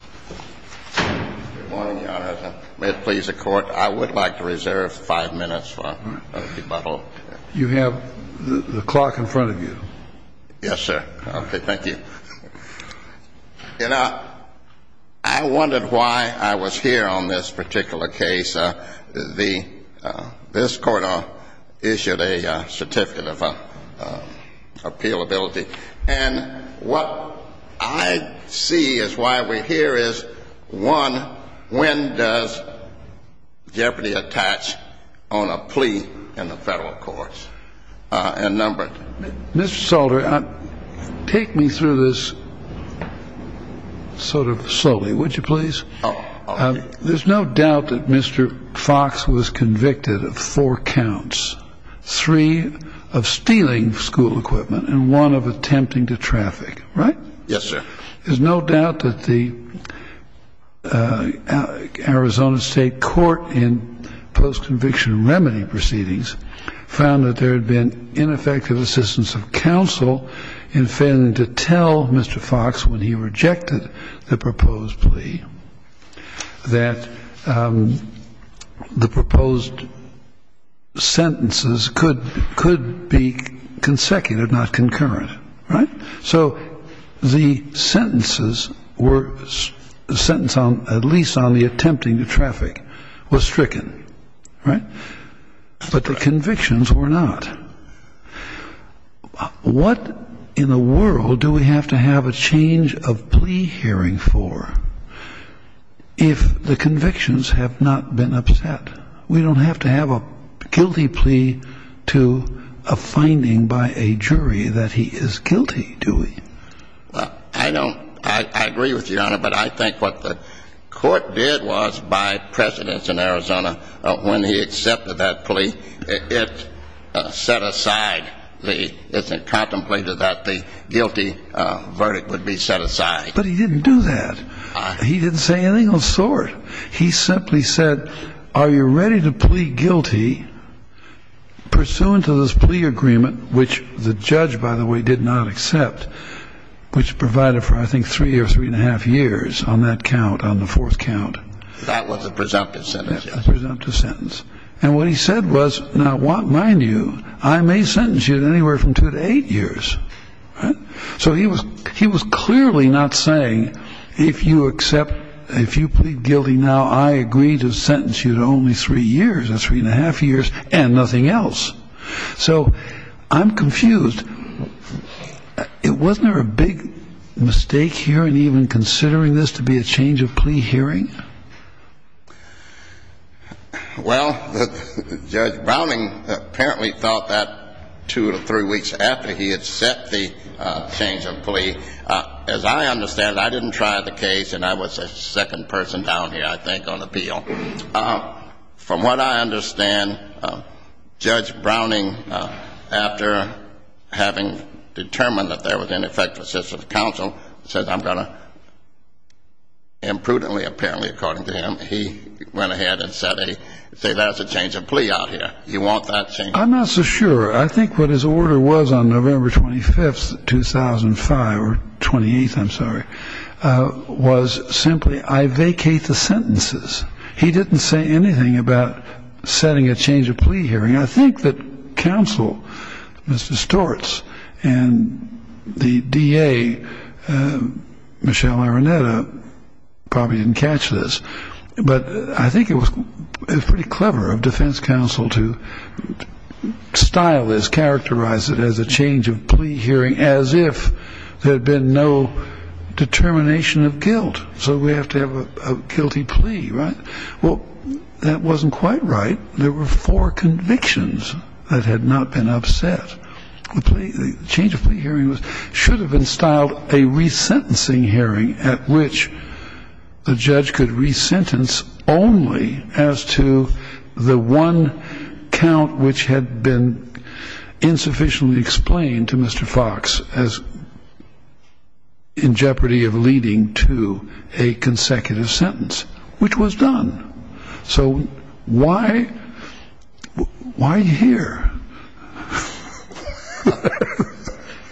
Good morning, Your Honor. May it please the Court, I would like to reserve five minutes for a rebuttal. You have the clock in front of you. Yes, sir. Okay, thank you. You know, I wondered why I was here on this particular case. This Court issued a certificate of appealability. And what I see as why we're here is, one, when does jeopardy attach on a plea in the federal courts? Mr. Salter, take me through this sort of slowly, would you please? There's no doubt that Mr. Fox was convicted of four counts. Three of stealing school equipment and one of attempting to traffic, right? Yes, sir. There's no doubt that the Arizona State Court in post-conviction remedy proceedings found that there had been ineffective assistance of counsel in failing to tell Mr. Fox when he rejected the proposed plea that the proposed sentences could be consecutive, not concurrent, right? So the sentences were sentenced on at least on the attempting to traffic was stricken, right? But the convictions were not. What in the world do we have to have a change of plea hearing for if the convictions have not been upset? We don't have to have a guilty plea to a finding by a jury that he is guilty, do we? I agree with you, Your Honor, but I think what the court did was, by precedence in Arizona, when he accepted that plea, it set aside, it contemplated that the guilty verdict would be set aside. But he didn't do that. He simply said, are you ready to plead guilty pursuant to this plea agreement, which the judge, by the way, did not accept, which provided for, I think, three or three and a half years on that count, on the fourth count. That was a presumptive sentence. That was a presumptive sentence. And what he said was, now, mind you, I may sentence you to anywhere from two to eight years. So he was clearly not saying, if you accept, if you plead guilty now, I agree to sentence you to only three years, or three and a half years, and nothing else. So I'm confused. Wasn't there a big mistake here in even considering this to be a change of plea hearing? Well, Judge Browning apparently thought that two to three weeks after he had set the change of plea. As I understand it, I didn't try the case, and I was the second person down here, I think, on appeal. From what I understand, Judge Browning, after having determined that there was ineffective assistance of counsel, said, I'm going to, and prudently, apparently, according to him, he went ahead and said, that's a change of plea out here. You want that change? I'm not so sure. I think what his order was on November 25th, 2005, or 28th, I'm sorry, was simply, I vacate the sentences. He didn't say anything about setting a change of plea hearing. I think that counsel, Mr. Stortz, and the DA, Michelle Araneta, probably didn't catch this, but I think it was pretty clever of defense counsel to style this, characterize it as a change of plea hearing, as if there had been no determination of guilt. So we have to have a guilty plea, right? Well, that wasn't quite right. There were four convictions that had not been upset. The change of plea hearing should have been styled a resentencing hearing, at which the judge could resentence only as to the one count, which had been insufficiently explained to Mr. Fox in jeopardy of leading to a consecutive sentence, which was done. So why here?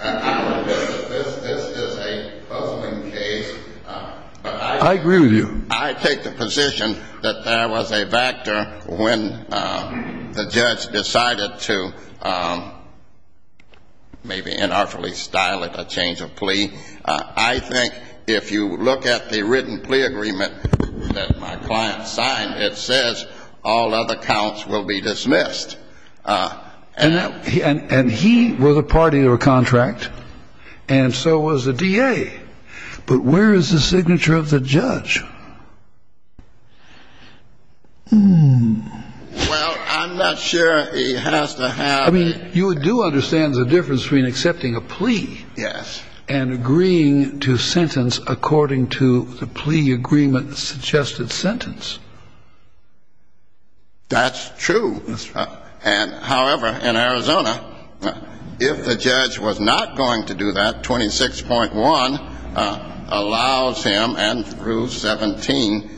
I will admit that this is a puzzling case. I agree with you. I take the position that there was a factor when the judge decided to maybe inartfully style it, a change of plea. I think if you look at the written plea agreement that my client signed, it says all other counts will be dismissed. And he was a party to a contract, and so was the DA. But where is the signature of the judge? Well, I'm not sure he has to have it. I mean, you do understand the difference between accepting a plea and agreeing to sentence according to the plea agreement suggested sentence. That's true. And, however, in Arizona, if the judge was not going to do that, 26.1 allows him and rule 17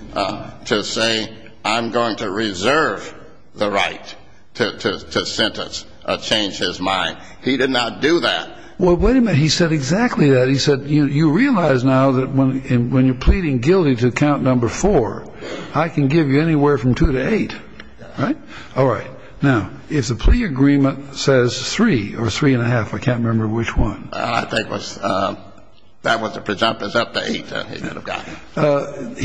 to say I'm going to reserve the right to sentence, change his mind. He did not do that. Well, wait a minute. He said exactly that. He said you realize now that when you're pleading guilty to count number four, I can give you anywhere from two to eight. Right? All right. Now, if the plea agreement says three or three and a half, I can't remember which one. I think that was a presumptive update that he would have gotten.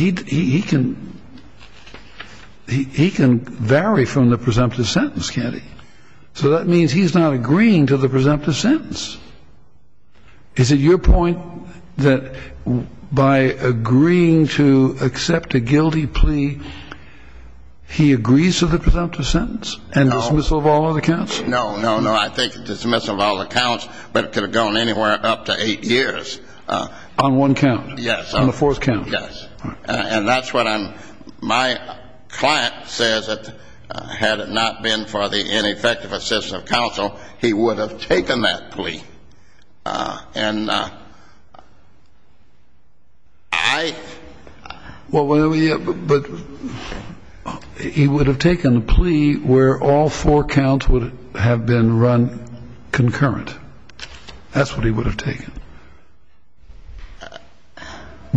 He can vary from the presumptive sentence, can't he? So that means he's not agreeing to the presumptive sentence. Is it your point that by agreeing to accept a guilty plea, he agrees to the presumptive sentence and dismissal of all other counts? No, no, no. I think dismissal of all the counts, but it could have gone anywhere up to eight years. On one count? Yes. On the fourth count? Yes. And that's what I'm, my client says that had it not been for the ineffective assistance of counsel, he would have taken that plea. And I. Well, but he would have taken the plea where all four counts would have been run concurrent. That's what he would have taken.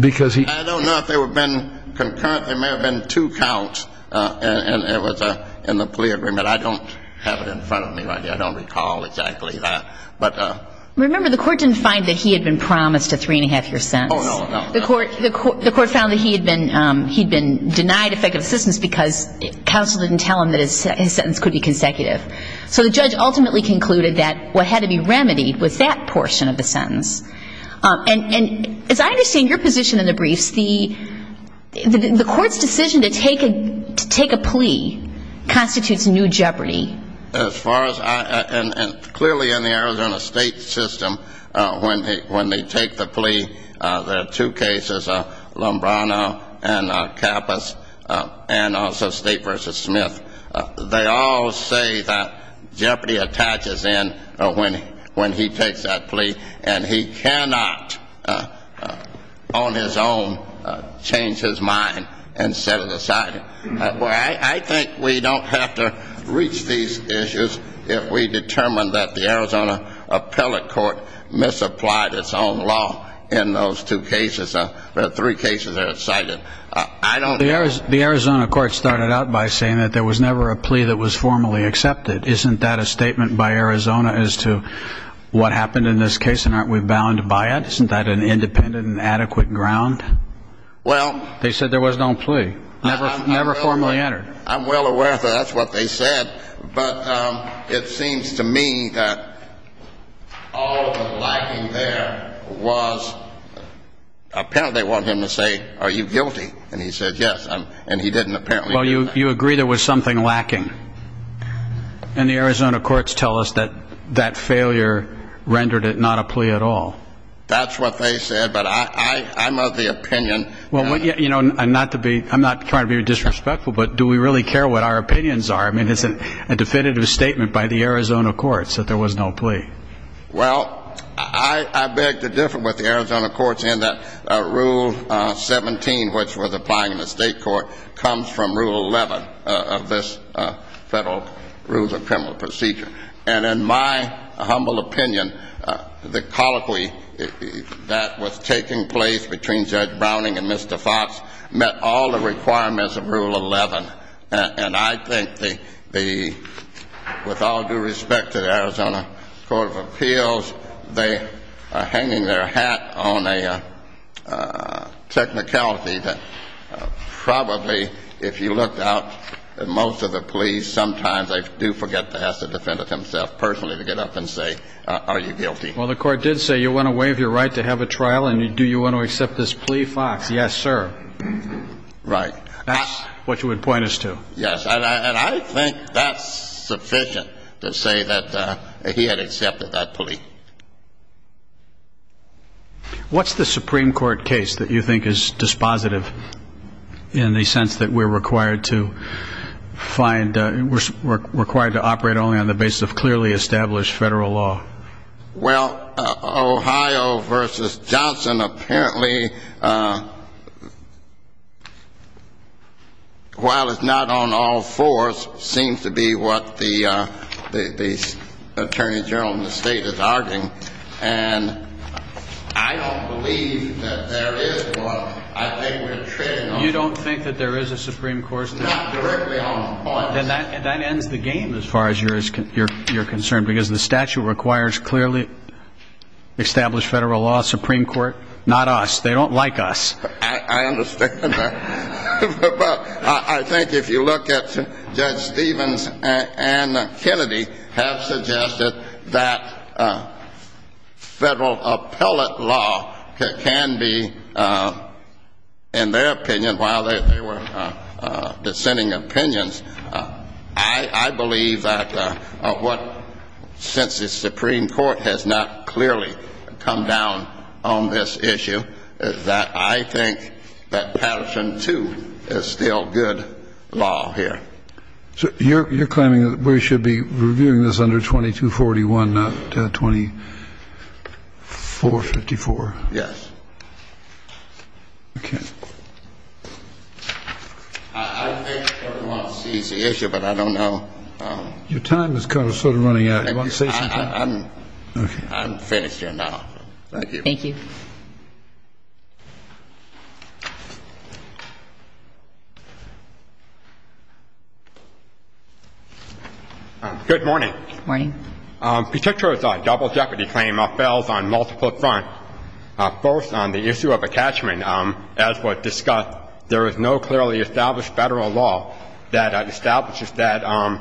Because he. I don't know if there would have been concurrent. There may have been two counts, and it was in the plea agreement. I don't have it in front of me right now. I don't recall exactly that. But. Remember, the court didn't find that he had been promised a three and a half year sentence. Oh, no, no. The court found that he had been denied effective assistance because counsel didn't tell him that his sentence could be consecutive. So the judge ultimately concluded that what had to be remedied was that portion of the sentence. And as I understand your position in the briefs, the court's decision to take a plea constitutes new jeopardy. As far as I, and clearly in the Arizona State system, when they take the plea, there are two cases, Lombrano and Capas, and also State v. They all say that jeopardy attaches in when he takes that plea, and he cannot on his own change his mind and set it aside. I think we don't have to reach these issues if we determine that the Arizona appellate court misapplied its own law in those two cases. There are three cases that are cited. The Arizona court started out by saying that there was never a plea that was formally accepted. Isn't that a statement by Arizona as to what happened in this case and aren't we bound by it? Isn't that an independent and adequate ground? They said there was no plea, never formally entered. I'm well aware of that. That's what they said. But it seems to me that all of the lacking there was apparently they wanted him to say, are you guilty? And he said yes, and he didn't apparently. Well, you agree there was something lacking. And the Arizona courts tell us that that failure rendered it not a plea at all. That's what they said, but I'm of the opinion. I'm not trying to be disrespectful, but do we really care what our opinions are? I mean, it's a definitive statement by the Arizona courts that there was no plea. Well, I beg to differ with the Arizona courts in that Rule 17, which was applying in the state court, comes from Rule 11 of this Federal Rules of Criminal Procedure. And in my humble opinion, the colloquy that was taking place between Judge Browning and Mr. Fox met all the requirements of Rule 11. And I think with all due respect to the Arizona Court of Appeals, they are hanging their hat on a technicality that probably if you looked out at most of the pleas, sometimes they do forget to ask the defendant himself personally to get up and say, are you guilty? Well, the court did say, you want to waive your right to have a trial, and do you want to accept this plea, Fox? Yes, sir. Right. That's what you would point us to. Yes, and I think that's sufficient to say that he had accepted that plea. What's the Supreme Court case that you think is dispositive in the sense that we're required to find we're required to operate only on the basis of clearly established Federal law? Well, Ohio v. Johnson apparently, while it's not on all fours, seems to be what the attorney general in the state is arguing. And I don't believe that there is one. I think we're treated on all fours. You don't think that there is a Supreme Court statute? Not directly on all fours. Then that ends the game as far as you're concerned, because the statute requires clearly established Federal law, Supreme Court, not us. They don't like us. I understand that. I think if you look at Judge Stevens and Kennedy have suggested that Federal appellate law can be, in their opinion, while they were dissenting opinions, I believe that what, since the Supreme Court has not clearly come down on this issue, is that I think that Patterson 2 is still good law here. So you're claiming that we should be reviewing this under 2241, not 2454? Yes. Okay. I think everyone sees the issue, but I don't know. Your time is sort of running out. Do you want to say something? I'm finished here now. Thank you. Thank you. Good morning. Good morning. Petitio's double jeopardy claim fails on multiple fronts. First, on the issue of attachment, as was discussed, there is no clearly established Federal law that establishes that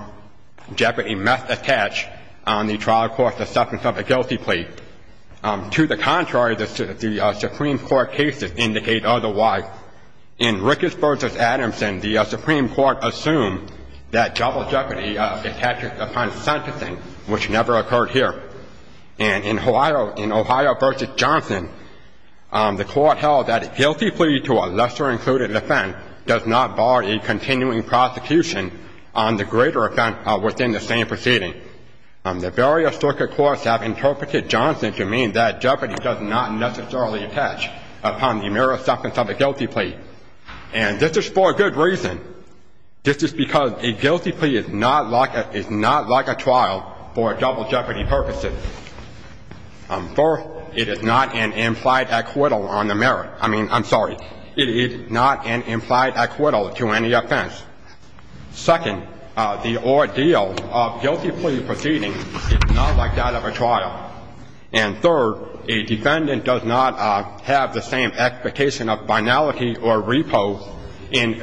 jeopardy must attach on the trial court's assessment of a guilty plea. To the contrary, the Supreme Court cases indicate otherwise. In Ricketts v. Adamson, the Supreme Court assumed that double jeopardy attached upon sentencing, which never occurred here. And in Ohio v. Johnson, the Court held that a guilty plea to a lesser-included offense does not bar a continuing prosecution on the greater offense within the same proceeding. The various circuit courts have interpreted Johnson to mean that jeopardy does not necessarily attach upon the mere assessment of a guilty plea. And this is for a good reason. This is because a guilty plea is not like a trial for double jeopardy purposes. First, it is not an implied acquittal on the merit. I mean, I'm sorry. It is not an implied acquittal to any offense. Second, the ordeal of guilty plea proceedings is not like that of a trial. And third, a defendant does not have the same expectation of finality or repo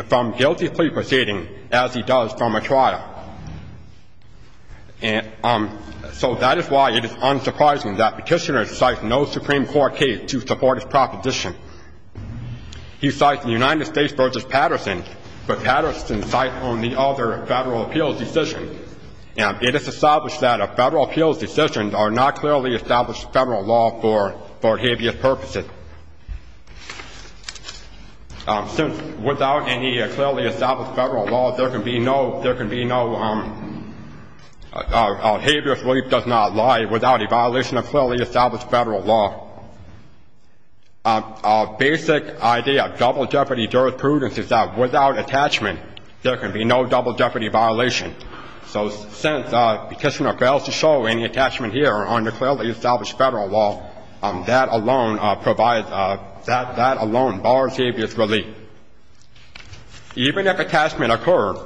from guilty plea proceedings as he does from a trial. And so that is why it is unsurprising that Petitioner cites no Supreme Court case to support his proposition. He cites the United States v. Patterson, but Patterson cites only other federal appeals decisions. And it is established that federal appeals decisions are not clearly established federal law for habeas purposes. Since without any clearly established federal law, there can be no habeas relief does not lie without a violation of clearly established federal law. A basic idea of double jeopardy jurisprudence is that without attachment, there can be no double jeopardy violation. So since Petitioner fails to show any attachment here under clearly established federal law, that alone provides, that alone bars habeas relief. Even if attachment occurs,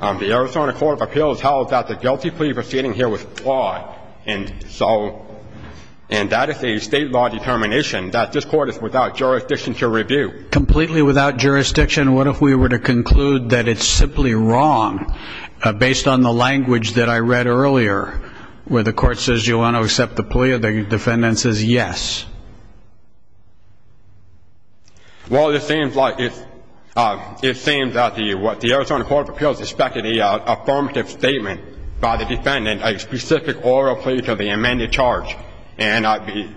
the Arizona Court of Appeals held that the guilty plea proceeding here was flawed. And that is a state law determination that this Court is without jurisdiction to review. Completely without jurisdiction, what if we were to conclude that it is simply wrong, based on the language that I read earlier, where the Court says you want to accept the plea or the defendant says yes? Well, it seems that the Arizona Court of Appeals expected an affirmative statement by the defendant, a specific oral plea to the amended charge. And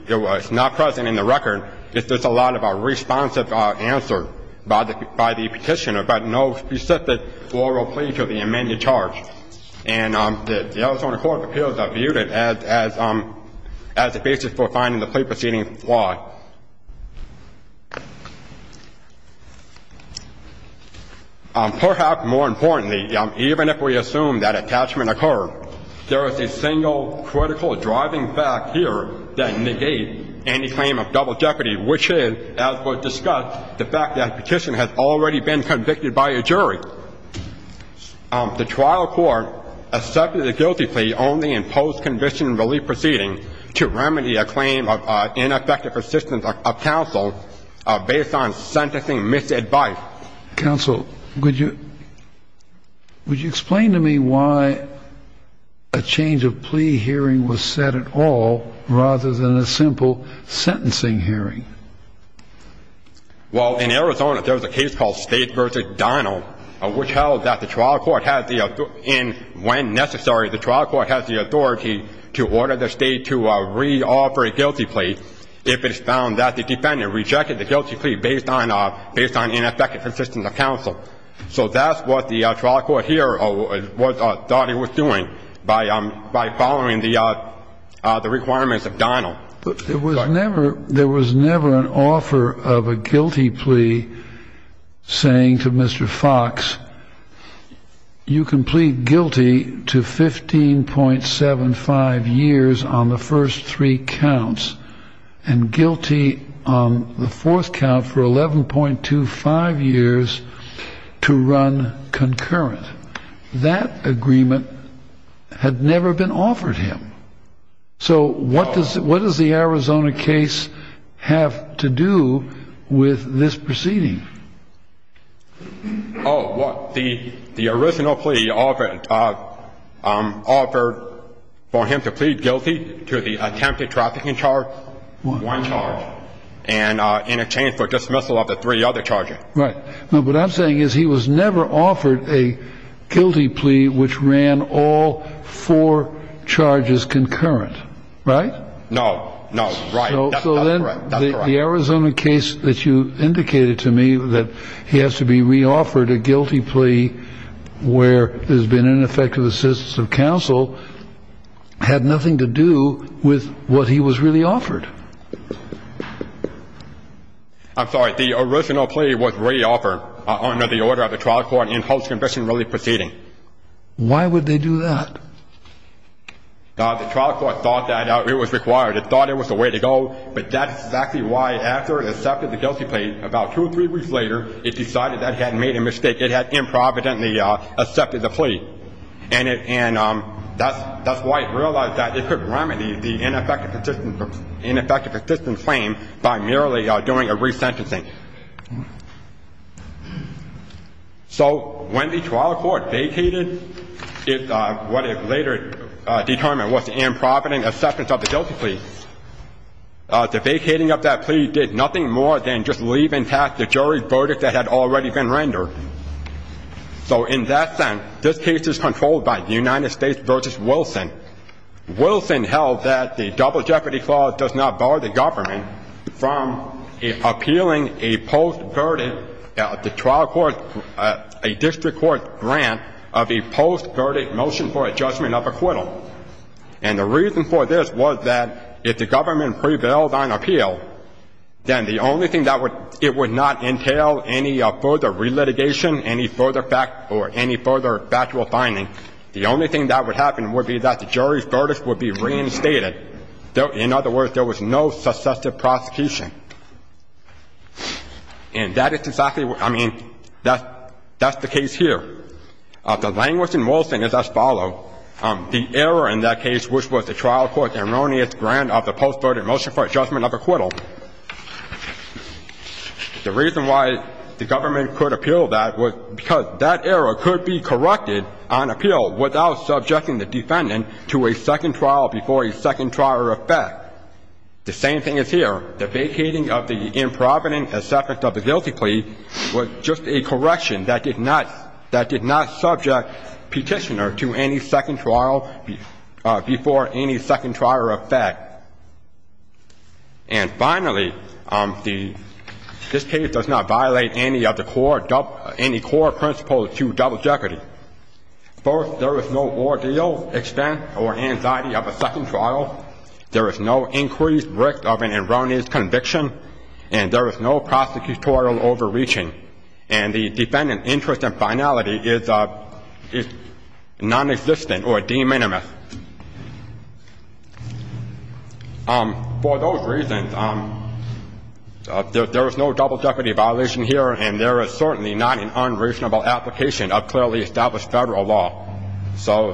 it's not present in the record. It's just a lot of a responsive answer by the Petitioner, but no specific oral plea to the amended charge. And the Arizona Court of Appeals viewed it as a basis for finding the plea proceeding flawed. Perhaps more importantly, even if we assume that attachment occurred, there is a single critical driving fact here that negates any claim of double jeopardy, which is, as was discussed, the fact that Petitioner has already been convicted by a jury. The trial court accepted the guilty plea only in post-conviction relief proceedings to remedy a claim of ineffective assistance of counsel based on sentencing misadvice. Counsel, would you explain to me why a change of plea hearing was set at all rather than a simple sentencing hearing? Well, in Arizona, there was a case called State v. Donnell, which held that the trial court had the authority and, when necessary, the trial court had the authority to order the State to re-offer a guilty plea if it found that the defendant rejected the guilty plea based on ineffective assistance of counsel. So that's what the trial court here thought it was doing by following the requirements of Donnell. But there was never an offer of a guilty plea saying to Mr. Fox, you can plead guilty to 15.75 years on the first three counts and guilty on the fourth count for 11.25 years to run concurrent. That agreement had never been offered him. So what does the Arizona case have to do with this proceeding? Oh, well, the original plea offered for him to plead guilty to the attempted trafficking charge, one charge, and in exchange for dismissal of the three other charges. Right. But what I'm saying is he was never offered a guilty plea which ran all four charges concurrent, right? No. No. Right. That's correct. So then the Arizona case that you indicated to me, that he has to be re-offered a guilty plea where there's been ineffective assistance of counsel, had nothing to do with what he was really offered. I'm sorry. The original plea was re-offered under the order of the trial court in post-conviction relief proceeding. Why would they do that? The trial court thought that it was required. It thought it was the way to go. But that's exactly why after it accepted the guilty plea, about two or three weeks later, it decided that it had made a mistake. It had improvidently accepted the plea. And that's why it realized that it could remedy the ineffective assistance claim by merely doing a resentencing. So when the trial court vacated what it later determined was the improvident acceptance of the guilty plea, the vacating of that plea did nothing more than just leave intact the jury's verdict that had already been rendered. So in that sense, this case is controlled by the United States v. Wilson. Wilson held that the double jeopardy clause does not bar the government from appealing a post-verdict, the trial court, a district court grant of a post-verdict motion for a judgment of acquittal. And the reason for this was that if the government prevails on appeal, then the only thing that would — it would not entail any further re-litigation, any further factual finding. The only thing that would happen would be that the jury's verdict would be reinstated. In other words, there was no successive prosecution. And that is exactly — I mean, that's the case here. The language in Wilson is as follows. The error in that case, which was the trial court's erroneous grant of the post-verdict motion for a judgment of acquittal, the reason why the government could appeal that was because that error could be corrected on appeal without subjecting the defendant to a second trial before a second trial or effect. The same thing is here. The vacating of the improvident acceptance of the guilty plea was just a correction that did not — did not subject the defendant to any second trial before any second trial or effect. And finally, this case does not violate any of the core — any core principles to double jeopardy. First, there is no ordeal, expense, or anxiety of a second trial. There is no increased risk of an erroneous conviction. And there is no prosecutorial overreaching. And the defendant's interest in finality is nonexistent or de minimis. For those reasons, there is no double jeopardy violation here, and there is certainly not an unreasonable application of clearly established Federal law. So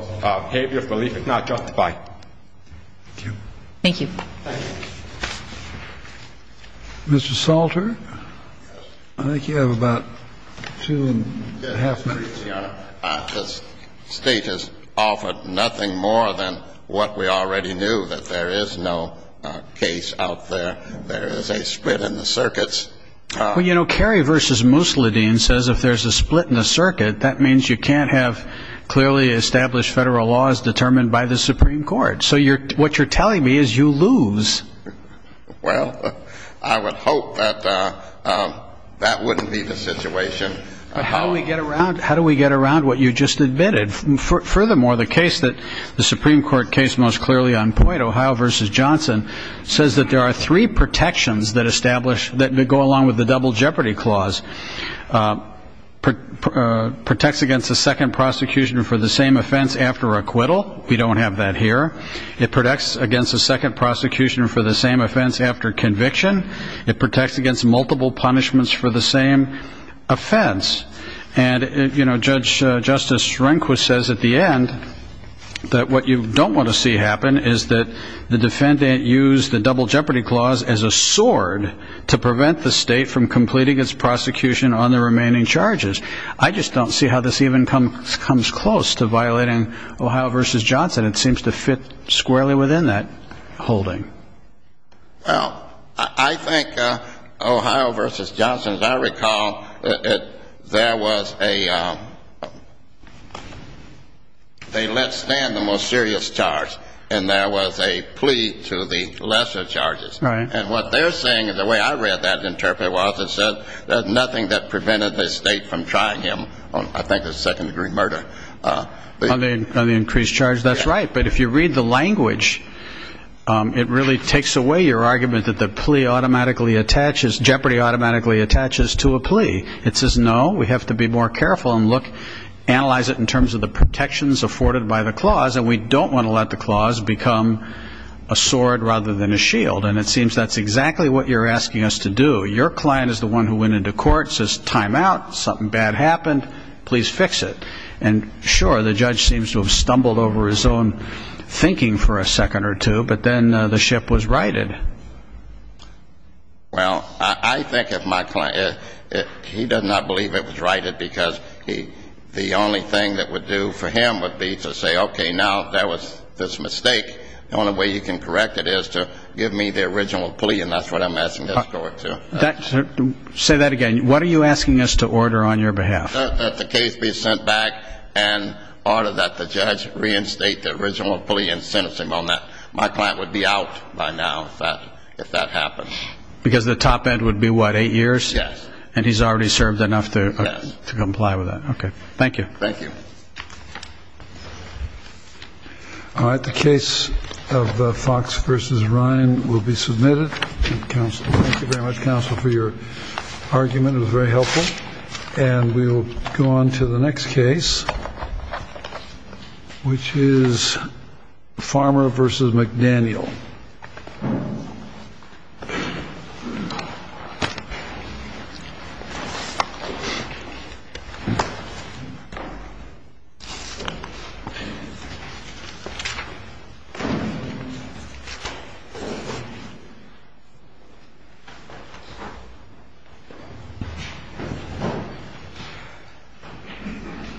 habeas belief is not justified. Thank you. Thank you. Mr. Salter? Yes. I think you have about two and a half minutes. Yes, Your Honor. This State has offered nothing more than what we already knew, that there is no case out there. There is a split in the circuits. Well, you know, Kerry v. Mousseline says if there's a split in the circuit, that means you can't have clearly established Federal laws determined by the Supreme Court. So what you're telling me is you lose. Well, I would hope that that wouldn't be the situation. How do we get around what you just admitted? Furthermore, the case that the Supreme Court case most clearly on point, Ohio v. Johnson, says that there are three protections that go along with the double jeopardy clause. Protects against a second prosecution for the same offense after acquittal. We don't have that here. It protects against a second prosecution for the same offense after conviction. It protects against multiple punishments for the same offense. And, you know, Judge Justice Rehnquist says at the end that what you don't want to see happen is that the defendant used the double jeopardy clause as a sword to prevent the State from completing its prosecution on the remaining charges. I just don't see how this even comes close to violating Ohio v. Johnson. It seems to fit squarely within that holding. Well, I think Ohio v. Johnson, as I recall, there was a they let stand the most serious charge. And there was a plea to the lesser charges. Right. And what they're saying, and the way I read that and interpreted it was, it said that nothing that prevented the State from trying him on, I think, a second-degree murder. On the increased charge. That's right. But if you read the language, it really takes away your argument that the plea automatically attaches, jeopardy automatically attaches to a plea. It says, no, we have to be more careful and look, analyze it in terms of the protections afforded by the clause, and we don't want to let the clause become a sword rather than a shield. And it seems that's exactly what you're asking us to do. Your client is the one who went into court, says, time out, something bad happened, please fix it. And, sure, the judge seems to have stumbled over his own thinking for a second or two, but then the ship was righted. Well, I think if my client, he does not believe it was righted, because the only thing that would do for him would be to say, okay, now, that was this mistake. The only way you can correct it is to give me the original plea, and that's what I'm asking this court to. Say that again. What are you asking us to order on your behalf? That the case be sent back and order that the judge reinstate the original plea and sentence him on that. My client would be out by now if that happened. Because the top end would be, what, eight years? Yes. And he's already served enough to comply with that. Yes. Okay. Thank you. Thank you. All right. The case of Fox v. Ryan will be submitted. Thank you very much, counsel, for your argument. It was very helpful. And we will go on to the next case, which is Farmer v. McDaniel. Thank you.